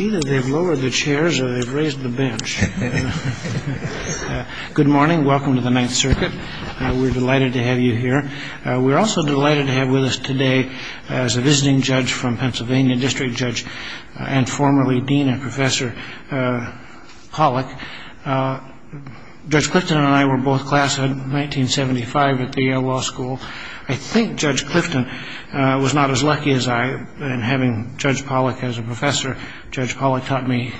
Either they've lowered the chairs or they've raised the bench. Good morning. Welcome to the Ninth Circuit. We're delighted to have you here. We're also delighted to have with us today, as a visiting judge from Pennsylvania, District Judge and formerly Dean and Professor Pollack, Judge Clifton and I were both classed in 1975 at Yale Law School. I think Judge Clifton was not as lucky as I in having Judge Pollack as a professor. Judge Pollack taught me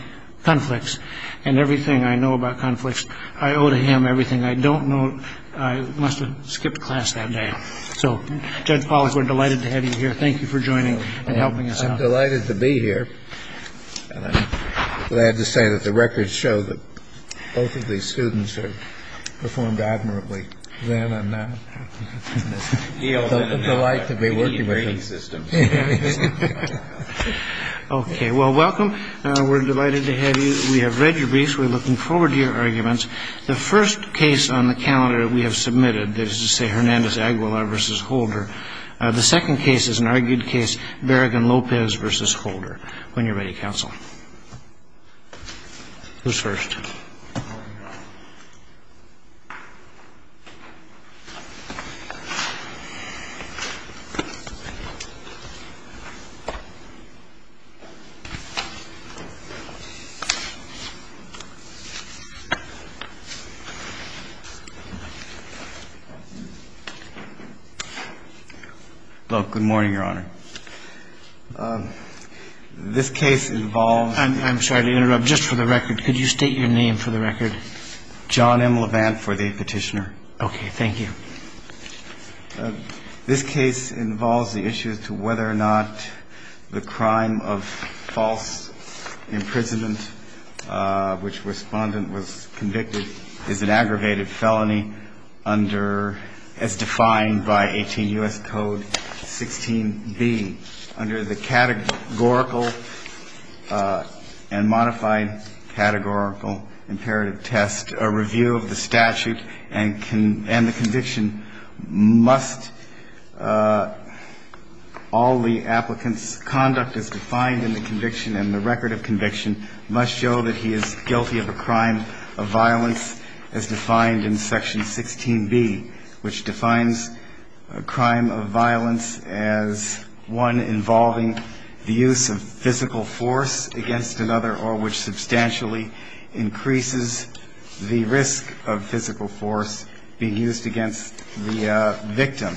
conflicts and everything I know about conflicts. I owe to him everything I don't know. I must have skipped class that day. So, Judge Pollack, we're delighted to have you here. Thank you for joining and helping us out. I'm delighted to be here. I'm glad to say that the records show that both of these students have performed admirably then and now, and it's a delight to be working with them. Okay. Well, welcome. We're delighted to have you. We have read your briefs. We're looking forward to your arguments. The first case on the calendar that we have submitted is, say, Hernandez-Aguilar v. Holder. The second case is an argued case, Barragan-Lopez v. Holder. When you're ready, counsel. Who's first? Well, good morning, Your Honor. This case involves — I'm sorry to interrupt. Just for the record, could you state your name for the record? John M. Levant for the petitioner. Okay. Thank you. This case involves the issue as to whether or not the crime of false imprisonment, which Respondent was convicted, is an aggravated felony under, as defined by 18 U.S. Code 16b, under the categorical and modified categorical imperative test, a review of the statute and the conviction must — all the applicant's conduct as defined in the conviction and the record of conviction must show that he is guilty of a crime of violence as defined in Section 16b, which defines a crime of violence as one involving the use of physical force against another or which substantially increases the risk of physical force being used against the victim.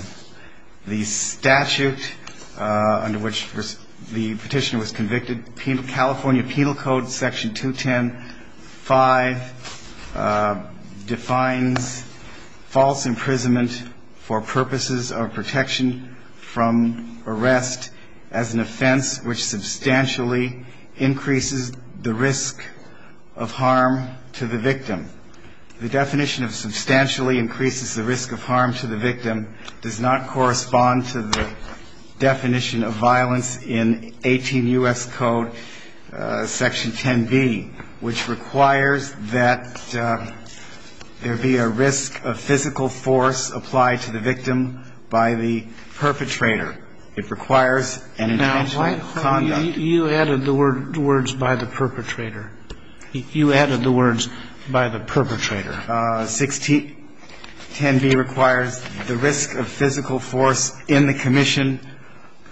The statute under which the petitioner was convicted, California Penal Code Section 210.5, defines false imprisonment for purposes of protection from arrest as an offense which substantially increases the risk of harm to the victim. The definition of substantially increases the risk of harm to the victim does not correspond to the definition of violence in 18 U.S. Code Section 10b, which requires that there be a risk of physical force applied to the victim by the perpetrator. It requires an intentional conduct. Now, why, Harvey, you added the words by the perpetrator. You added the words by the perpetrator. 1610b requires the risk of physical force in the commission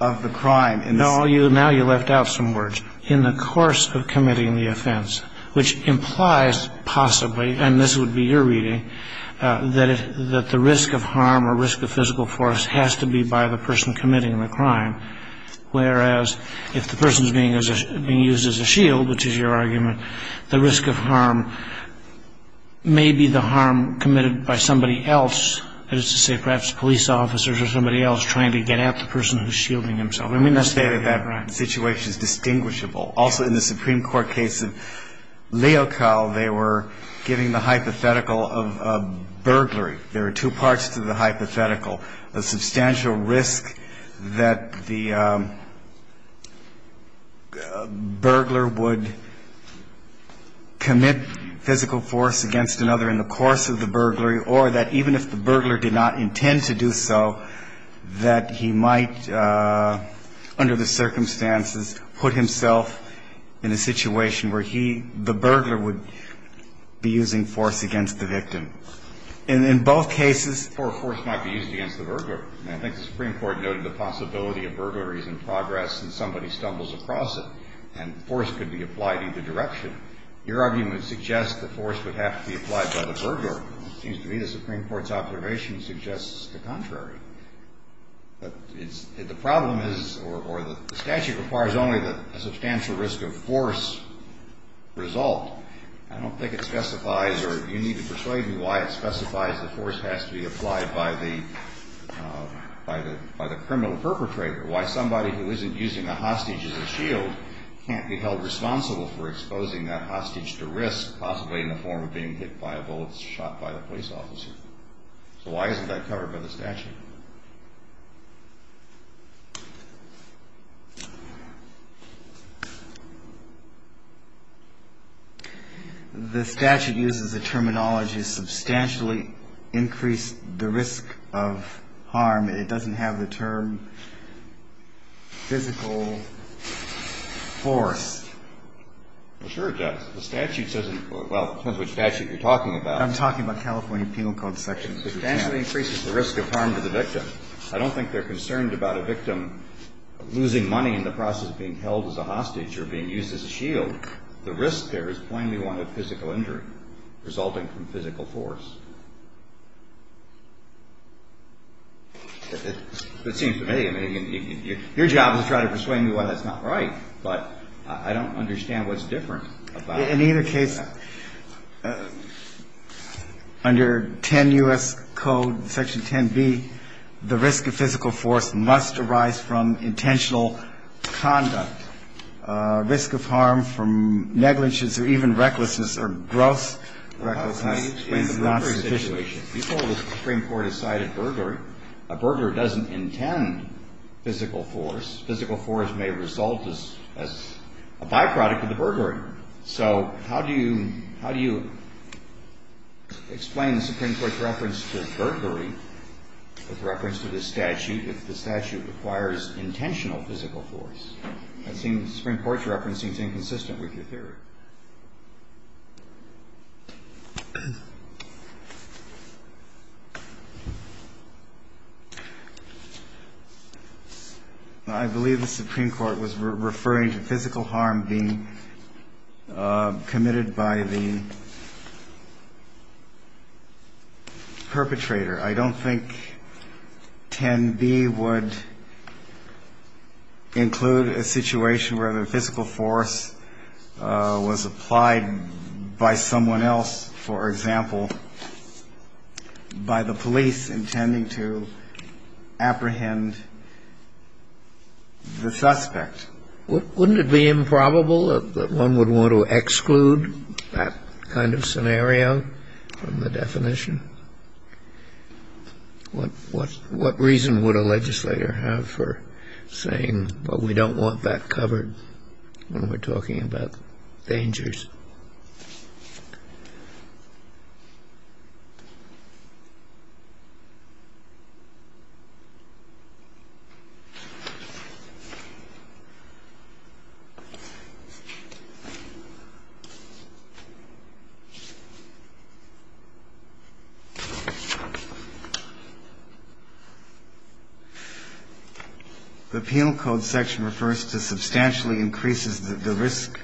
of the crime. Now you left out some words. In the course of committing the offense, which implies possibly, and this would be your reading, that the risk of harm or risk of physical force has to be by the person committing the crime, whereas if the person is being used as a shield, which is your argument, the risk of harm may be the harm committed by somebody else, that is to say perhaps police officers or somebody else trying to get at the person who's shielding himself. I mean, let's say that that situation is distinguishable. Also, in the Supreme Court case of Leocal, they were giving the hypothetical of burglary. There are two parts to the hypothetical. A substantial risk that the burglar would commit physical force against another in the course of the burglary, or that even if the burglar did not intend to do so, that he might, under the circumstances, put himself in a situation where he, the burglar, would be using force against the victim. And in both cases, force might be used against the burglar. And I think the Supreme Court noted the possibility of burglaries in progress and somebody stumbles across it, and force could be applied in either direction. Your argument suggests that force would have to be applied by the burglar. It seems to me the Supreme Court's observation suggests the contrary. The problem is, or the statute requires only a substantial risk of force result. I don't think it specifies, or you need to persuade me why it specifies the force has to be applied by the criminal perpetrator. Why somebody who isn't using a hostage as a shield can't be held responsible for exposing that hostage to risk, possibly in the form of being hit by a bullet shot by the police officer. So why isn't that covered by the statute? The statute uses the terminology substantially increase the risk of harm. It doesn't have the term physical force. Well, sure it does. The statute says, well, it's not the statute you're talking about. I'm talking about California Penal Code Section 5010. It substantially increases the risk of harm to the victim. I don't think they're concerned about a victim losing money in the process of being held as a hostage or being used as a shield. The risk there is plainly one of physical injury resulting from physical force. It seems to me, I mean, your job is to try to persuade me why that's not right. But I don't understand what's different about it. In either case, under 10 U.S. Code Section 10B, the risk of physical force must arise from intentional conduct. Risk of harm from negligence or even recklessness or gross recklessness is not sufficient. Well, how do you explain the burglary situation? You told the Supreme Court a site of burglary. A burglar doesn't intend physical force. Physical force may result as a byproduct of the burglary. So how do you explain the Supreme Court's reference to burglary with reference to this statute if the statute requires intentional physical force? It seems the Supreme Court's referencing is inconsistent with your theory. I believe the Supreme Court was referring to physical harm being committed by the perpetrator. I don't think 10B would include a situation where the physical force was applied by someone else, for example, by the police intending to apprehend the suspect. Wouldn't it be improbable that one would want to exclude that kind of scenario from the definition? What reason would a legislator have for saying, well, we don't want that covered when we're talking about dangers? The Penal Code section refers to substantially increases the risk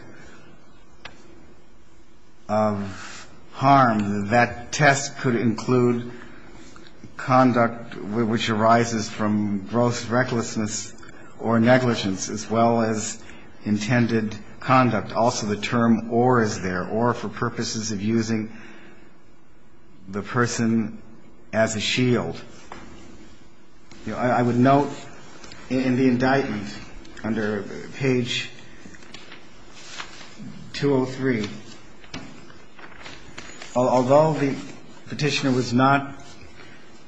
of harm. That test could include conduct which arises from gross recklessness or negligence as well as intended conduct. I would note in the indictment under page 203, although the Petitioner was not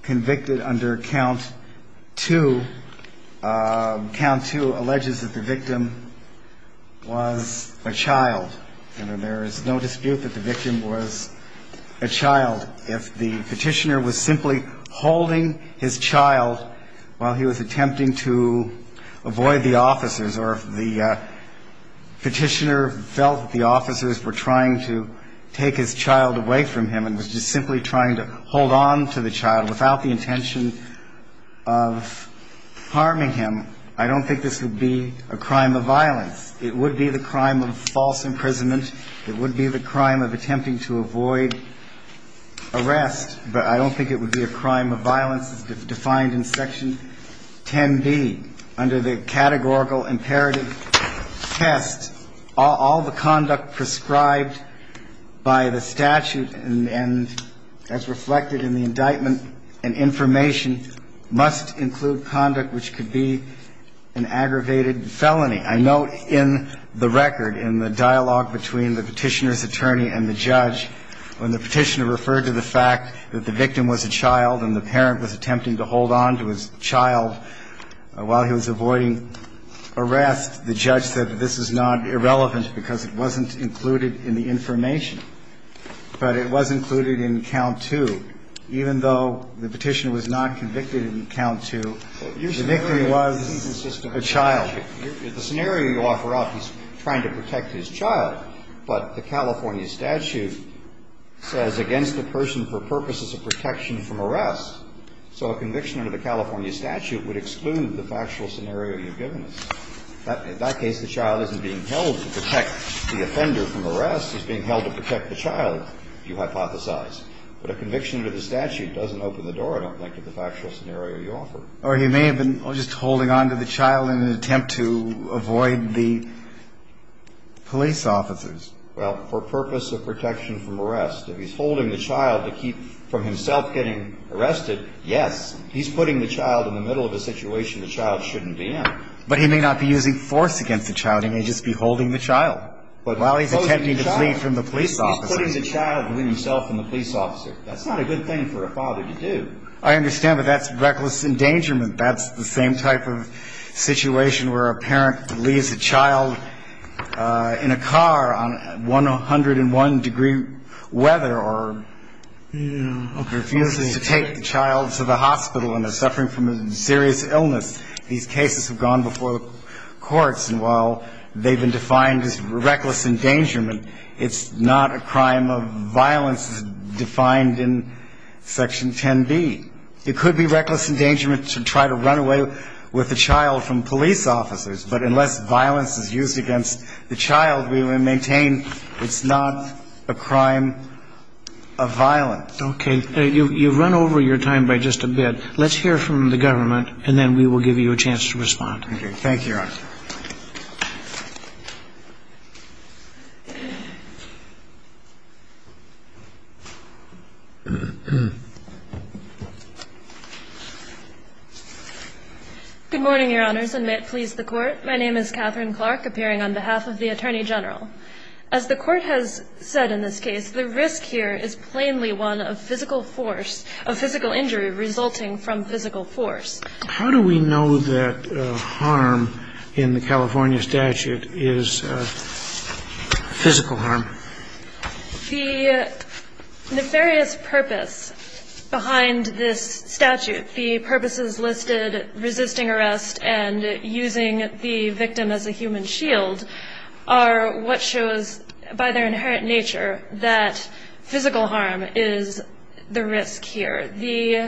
convicted under count two, count two alleges that the victim was a child. And there is no dispute that the victim was a child. If the Petitioner was simply holding his child while he was attempting to avoid the officers or if the Petitioner felt the officers were trying to take his child away from him and was just simply trying to hold on to the child without the intention of harming him, I don't think this would be a crime of violence. It would be the crime of false imprisonment. It would be the crime of attempting to avoid arrest. But I don't think it would be a crime of violence as defined in section 10B. Under the categorical imperative test, all the conduct prescribed by the statute and as reflected in the indictment and information must include conduct which could be an aggravated felony. I note in the record in the dialogue between the Petitioner's attorney and the judge when the Petitioner referred to the fact that the victim was a child and the parent was attempting to hold on to his child while he was avoiding arrest, the judge said that this is not irrelevant because it wasn't included in the information. But it was included in count two. Even though the Petitioner was not convicted in count two, the victim was a child. The scenario you offer up, he's trying to protect his child, but the California statute says against the person for purposes of protection from arrest. So a conviction under the California statute would exclude the factual scenario you've given us. In that case, the child isn't being held to protect the offender from arrest. Arrest is being held to protect the child, you hypothesize. But a conviction under the statute doesn't open the door, I don't think, to the factual scenario you offer. Or he may have been just holding on to the child in an attempt to avoid the police officers. Well, for purpose of protection from arrest. If he's holding the child to keep from himself getting arrested, yes. He's putting the child in the middle of a situation the child shouldn't be in. But he may not be using force against the child. He may just be holding the child. But while he's attempting to flee from the police officer. He's putting the child between himself and the police officer. That's not a good thing for a father to do. I understand, but that's reckless endangerment. That's the same type of situation where a parent leaves a child in a car on 101 degree weather or refuses to take the child to the hospital and they're suffering from a serious illness. These cases have gone before the courts. And while they've been defined as reckless endangerment, it's not a crime of violence as defined in Section 10B. It could be reckless endangerment to try to run away with a child from police officers. But unless violence is used against the child, we will maintain it's not a crime of violence. Okay. You've run over your time by just a bit. Let's hear from the government and then we will give you a chance to respond. Thank you, Your Honor. Good morning, Your Honors, and may it please the Court. My name is Catherine Clark, appearing on behalf of the Attorney General. As the Court has said in this case, the risk here is plainly one of physical force, of physical injury resulting from physical force. How do we know that harm in the California statute is physical harm? The nefarious purpose behind this statute, the purposes listed resisting arrest and using the victim as a human shield are what shows, by their inherent nature, that physical harm is the risk here.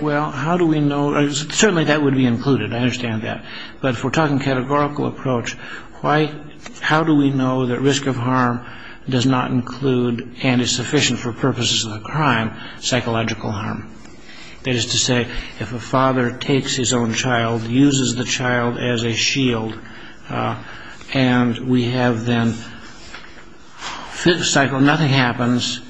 Well, how do we know? Certainly that would be included. I understand that. But if we're talking categorical approach, how do we know that risk of harm does not include, and is sufficient for purposes of the crime, psychological harm? That is to say, if a father takes his own child, uses the child as a shield, and we have then physical harm, nothing happens.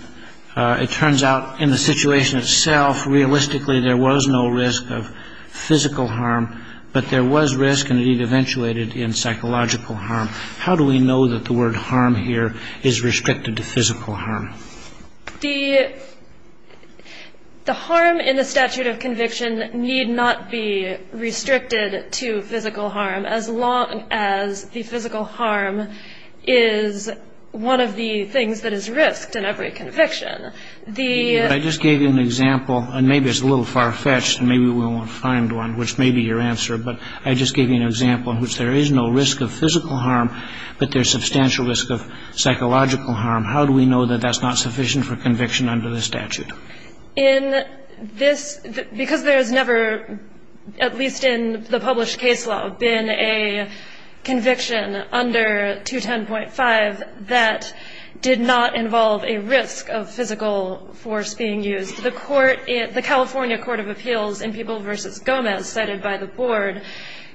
It turns out in the situation itself, realistically, there was no risk of physical harm, but there was risk and it eventuated in psychological harm. How do we know that the word harm here is restricted to physical harm? The harm in the statute of conviction need not be restricted to physical harm, as long as the physical harm is one of the things that is risked in every conviction. I just gave you an example, and maybe it's a little far-fetched, and maybe we won't find one, which may be your answer, but I just gave you an example in which there is no risk of physical harm, but there's substantial risk of psychological harm. How do we know that that's not sufficient for conviction under the statute? Because there has never, at least in the published case law, been a conviction under 210.5 that did not involve a risk of physical force being used. The California Court of Appeals in People v. Gomez, cited by the Board,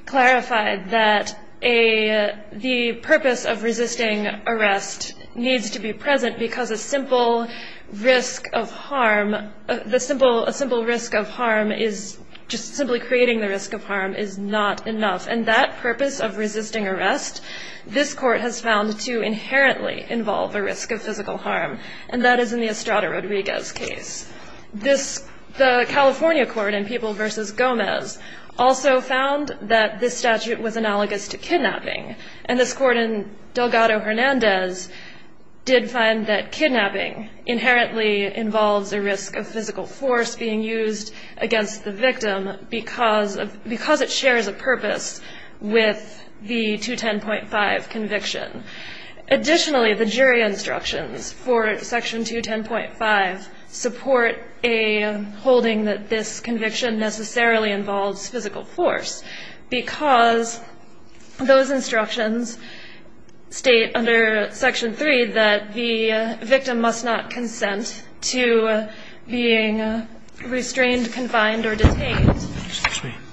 clarified that the purpose of resisting arrest needs to be present because a simple risk of harm is just simply creating the risk of harm is not enough. And that purpose of resisting arrest, this Court has found, to inherently involve a risk of physical harm, and that is in the Estrada-Rodriguez case. The California Court in People v. Gomez also found that this statute was analogous to kidnapping, and this Court in Delgado-Hernandez did find that kidnapping inherently involves a risk of physical force being used against the victim because it shares a purpose with the 210.5 conviction. Additionally, the jury instructions for section 210.5 support a holding that this conviction necessarily involves physical force because those instructions state under section 3 that the victim must not consent to being restrained, confined, or detained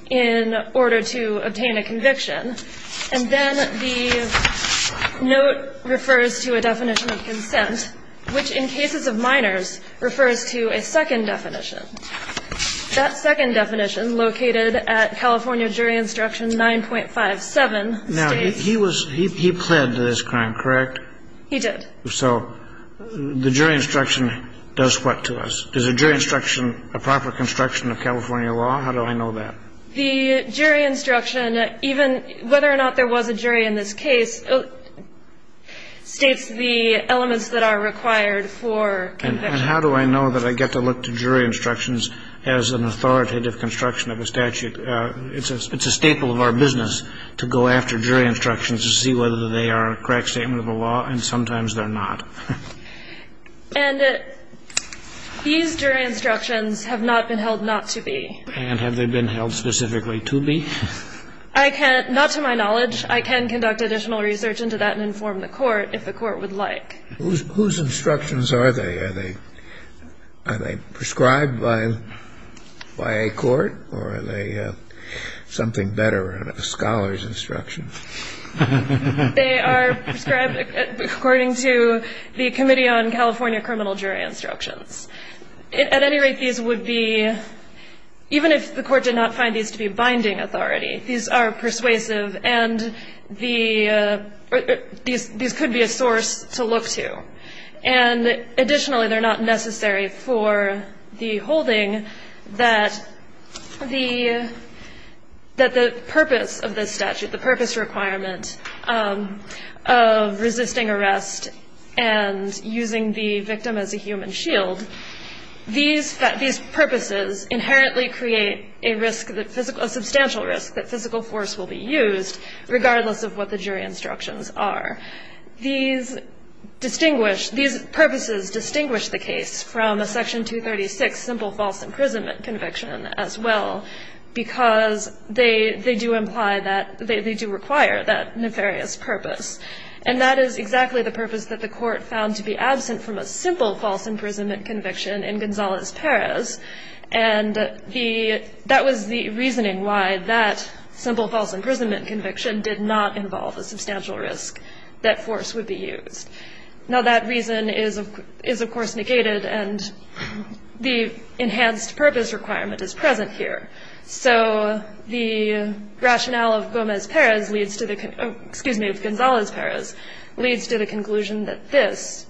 in order to obtain a conviction. And then the note refers to a definition of consent, which in cases of minors refers to a second definition. That second definition, located at California Jury Instruction 9.57 states... Kennedy. Now, he was he pled to this crime, correct? He did. So the jury instruction does what to us? Is a jury instruction a proper construction of California law? How do I know that? The jury instruction, even whether or not there was a jury in this case, states the elements that are required for conviction. And how do I know that I get to look to jury instructions as an authoritative construction of a statute? It's a staple of our business to go after jury instructions to see whether they are a correct statement of the law, and sometimes they're not. And these jury instructions have not been held not to be. And have they been held specifically to be? I can't. Not to my knowledge. I can conduct additional research into that and inform the court if the court would like. Whose instructions are they? Are they prescribed by a court or are they something better, a scholar's instruction? They are prescribed according to the Committee on California Criminal Jury Instructions. At any rate, these would be, even if the court did not find these to be binding authority, these are persuasive and these could be a source to look to. And additionally, they're not necessary for the holding that the purpose of this statute, the purpose requirement of resisting arrest and using the victim as a human shield, these purposes inherently create a risk, a substantial risk that physical force will be used regardless of what the jury instructions are. These distinguish, these purposes distinguish the case from a Section 236 simple false imprisonment conviction as well because they do imply that, they do require that nefarious purpose. And that is exactly the purpose that the court found to be absent from a simple false imprisonment conviction in Gonzalez-Perez. And that was the reasoning why that simple false imprisonment conviction did not involve a substantial risk that force would be used. Now, that reason is, of course, negated and the enhanced purpose requirement is present here. So the rationale of Gomez-Perez leads to the, excuse me, of Gonzalez-Perez leads to the conclusion that this,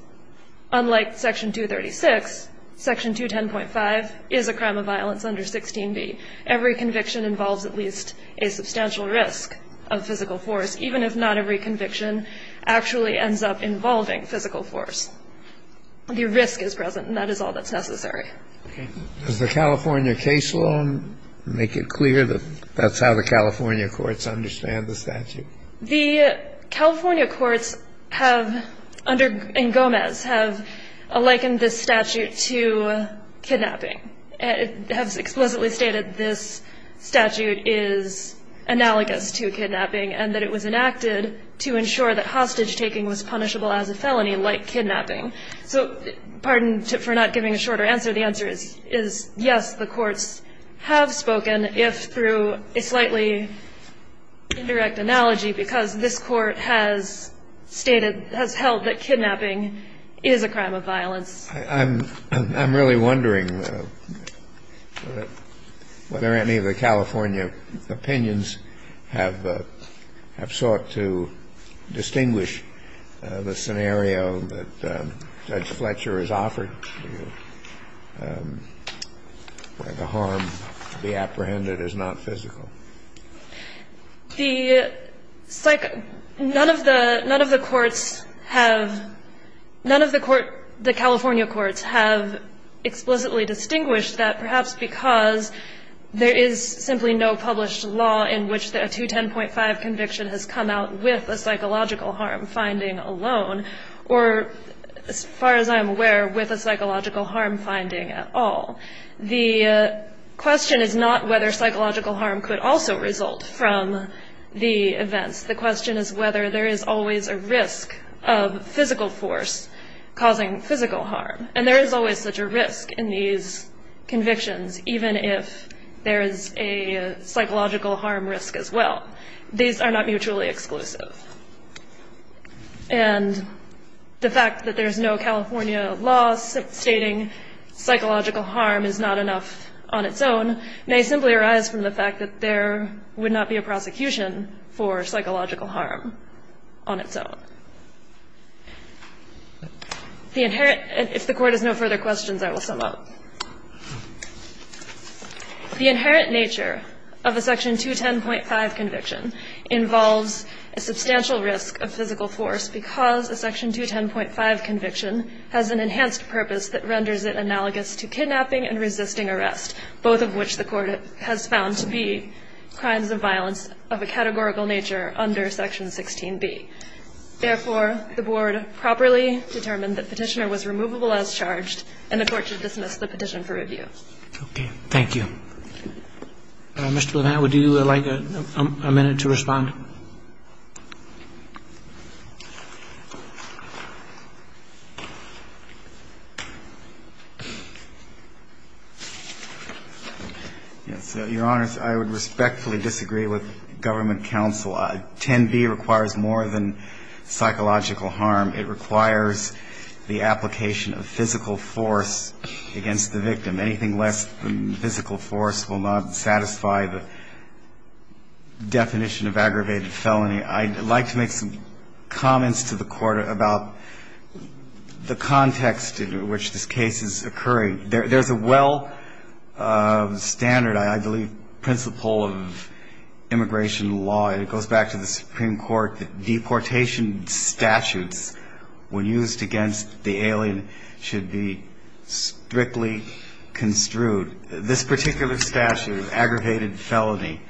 unlike Section 236, Section 210.5, is a crime of violence under 16b. Every conviction involves at least a substantial risk of physical force, even if not every conviction actually ends up involving physical force. The risk is present and that is all that's necessary. Okay. Does the California case law make it clear that that's how the California courts understand the statute? The California courts have, under, in Gomez, have likened this statute to kidnapping and have explicitly stated this statute is analogous to kidnapping and that it was enacted to ensure that hostage-taking was punishable as a felony like kidnapping. So pardon for not giving a shorter answer. The answer is yes, the courts have spoken, if through a slightly indirect analogy, because this Court has stated, has held that kidnapping is a crime of violence. I'm really wondering whether any of the California opinions have sought to distinguish the scenario that Judge Fletcher has offered to you where the harm to be apprehended is not physical. The psych – none of the courts have – none of the California courts have explicitly distinguished that, perhaps because there is simply no published law in which a 210.5 conviction has come out with a psychological harm finding alone or, as far as I'm aware, with a psychological harm finding at all. The question is not whether psychological harm could also result from the events. The question is whether there is always a risk of physical force causing physical harm, and there is always such a risk in these convictions, even if there is a psychological harm risk as well. These are not mutually exclusive. And the fact that there is no California law stating psychological harm is not enough on its own may simply arise from the fact that there would not be a prosecution for psychological harm on its own. The inherent – if the Court has no further questions, I will sum up. The inherent nature of a Section 210.5 conviction involves a substantial risk of physical force because a Section 210.5 conviction has an enhanced purpose that renders it analogous to kidnapping and resisting arrest, both of which the Court has found to be crimes of violence of a categorical nature under Section 16b. Therefore, the Board properly determined that Petitioner was removable as charged and the Court should dismiss the petition for review. Okay. Thank you. Mr. Blumenthal, would you like a minute to respond? Yes. Your Honors, I would respectfully disagree with Government counsel. 10b requires more than psychological harm. It requires the application of physical force against the victim. Anything less than physical force will not satisfy the definition of aggravated felony. I'd like to make some comments to the Court about the context in which this case is occurring. There's a well-standard, I believe, principle of immigration law, and it goes back to the Supreme Court that deportation statutes, when used against the alien, should be strictly construed. This particular statute of aggravated felony,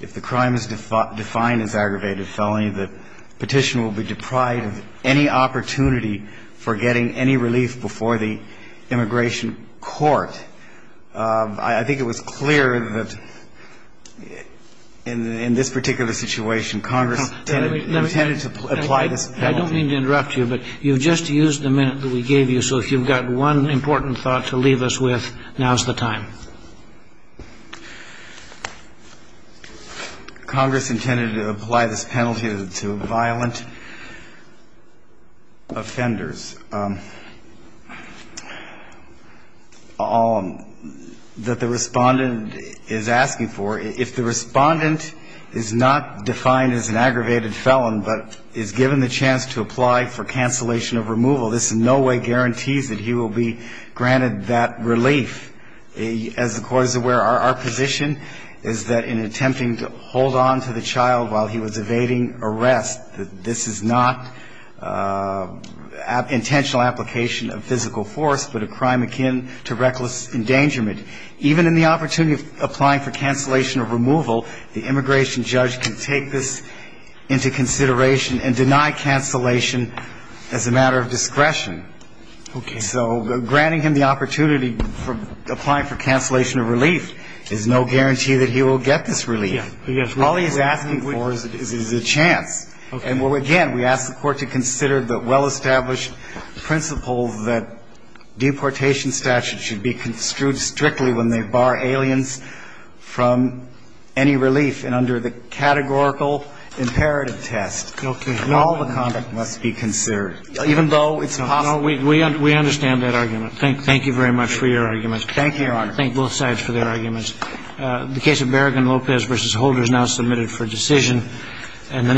if the crime is defined as aggravated felony, the Petitioner will be deprived of any opportunity for getting any relief before the immigration court. I think it was clear that in this particular situation, Congress intended to apply this penalty. I don't mean to interrupt you, but you've just used the minute that we gave you, so if you've got one important thought to leave us with, now's the time. Congress intended to apply this penalty to violent offenders. If the respondent is not defined as an aggravated felon but is given the chance to apply for cancellation of removal, this in no way guarantees that he will be granted that relief. As the Court is aware, our position is that in attempting to hold on to the child while he was evading arrest, that this is not, in fact, an aggravated felony. It's not a crime akin to intentional application of physical force but a crime akin to reckless endangerment. Even in the opportunity of applying for cancellation of removal, the immigration judge can take this into consideration and deny cancellation as a matter of discretion. So granting him the opportunity for applying for cancellation of relief is no guarantee that he will get this relief. All he's asking for is a chance. And again, we ask the Court to consider the well-established principle that deportation statute should be construed strictly when they bar aliens from any relief and under the categorical imperative test. All the conduct must be considered, even though it's possible. No, we understand that argument. Thank you very much for your arguments. Thank you, Your Honor. Thank both sides for their arguments. The case of Berrigan-Lopez v. Holder is now submitted for decision. And the next...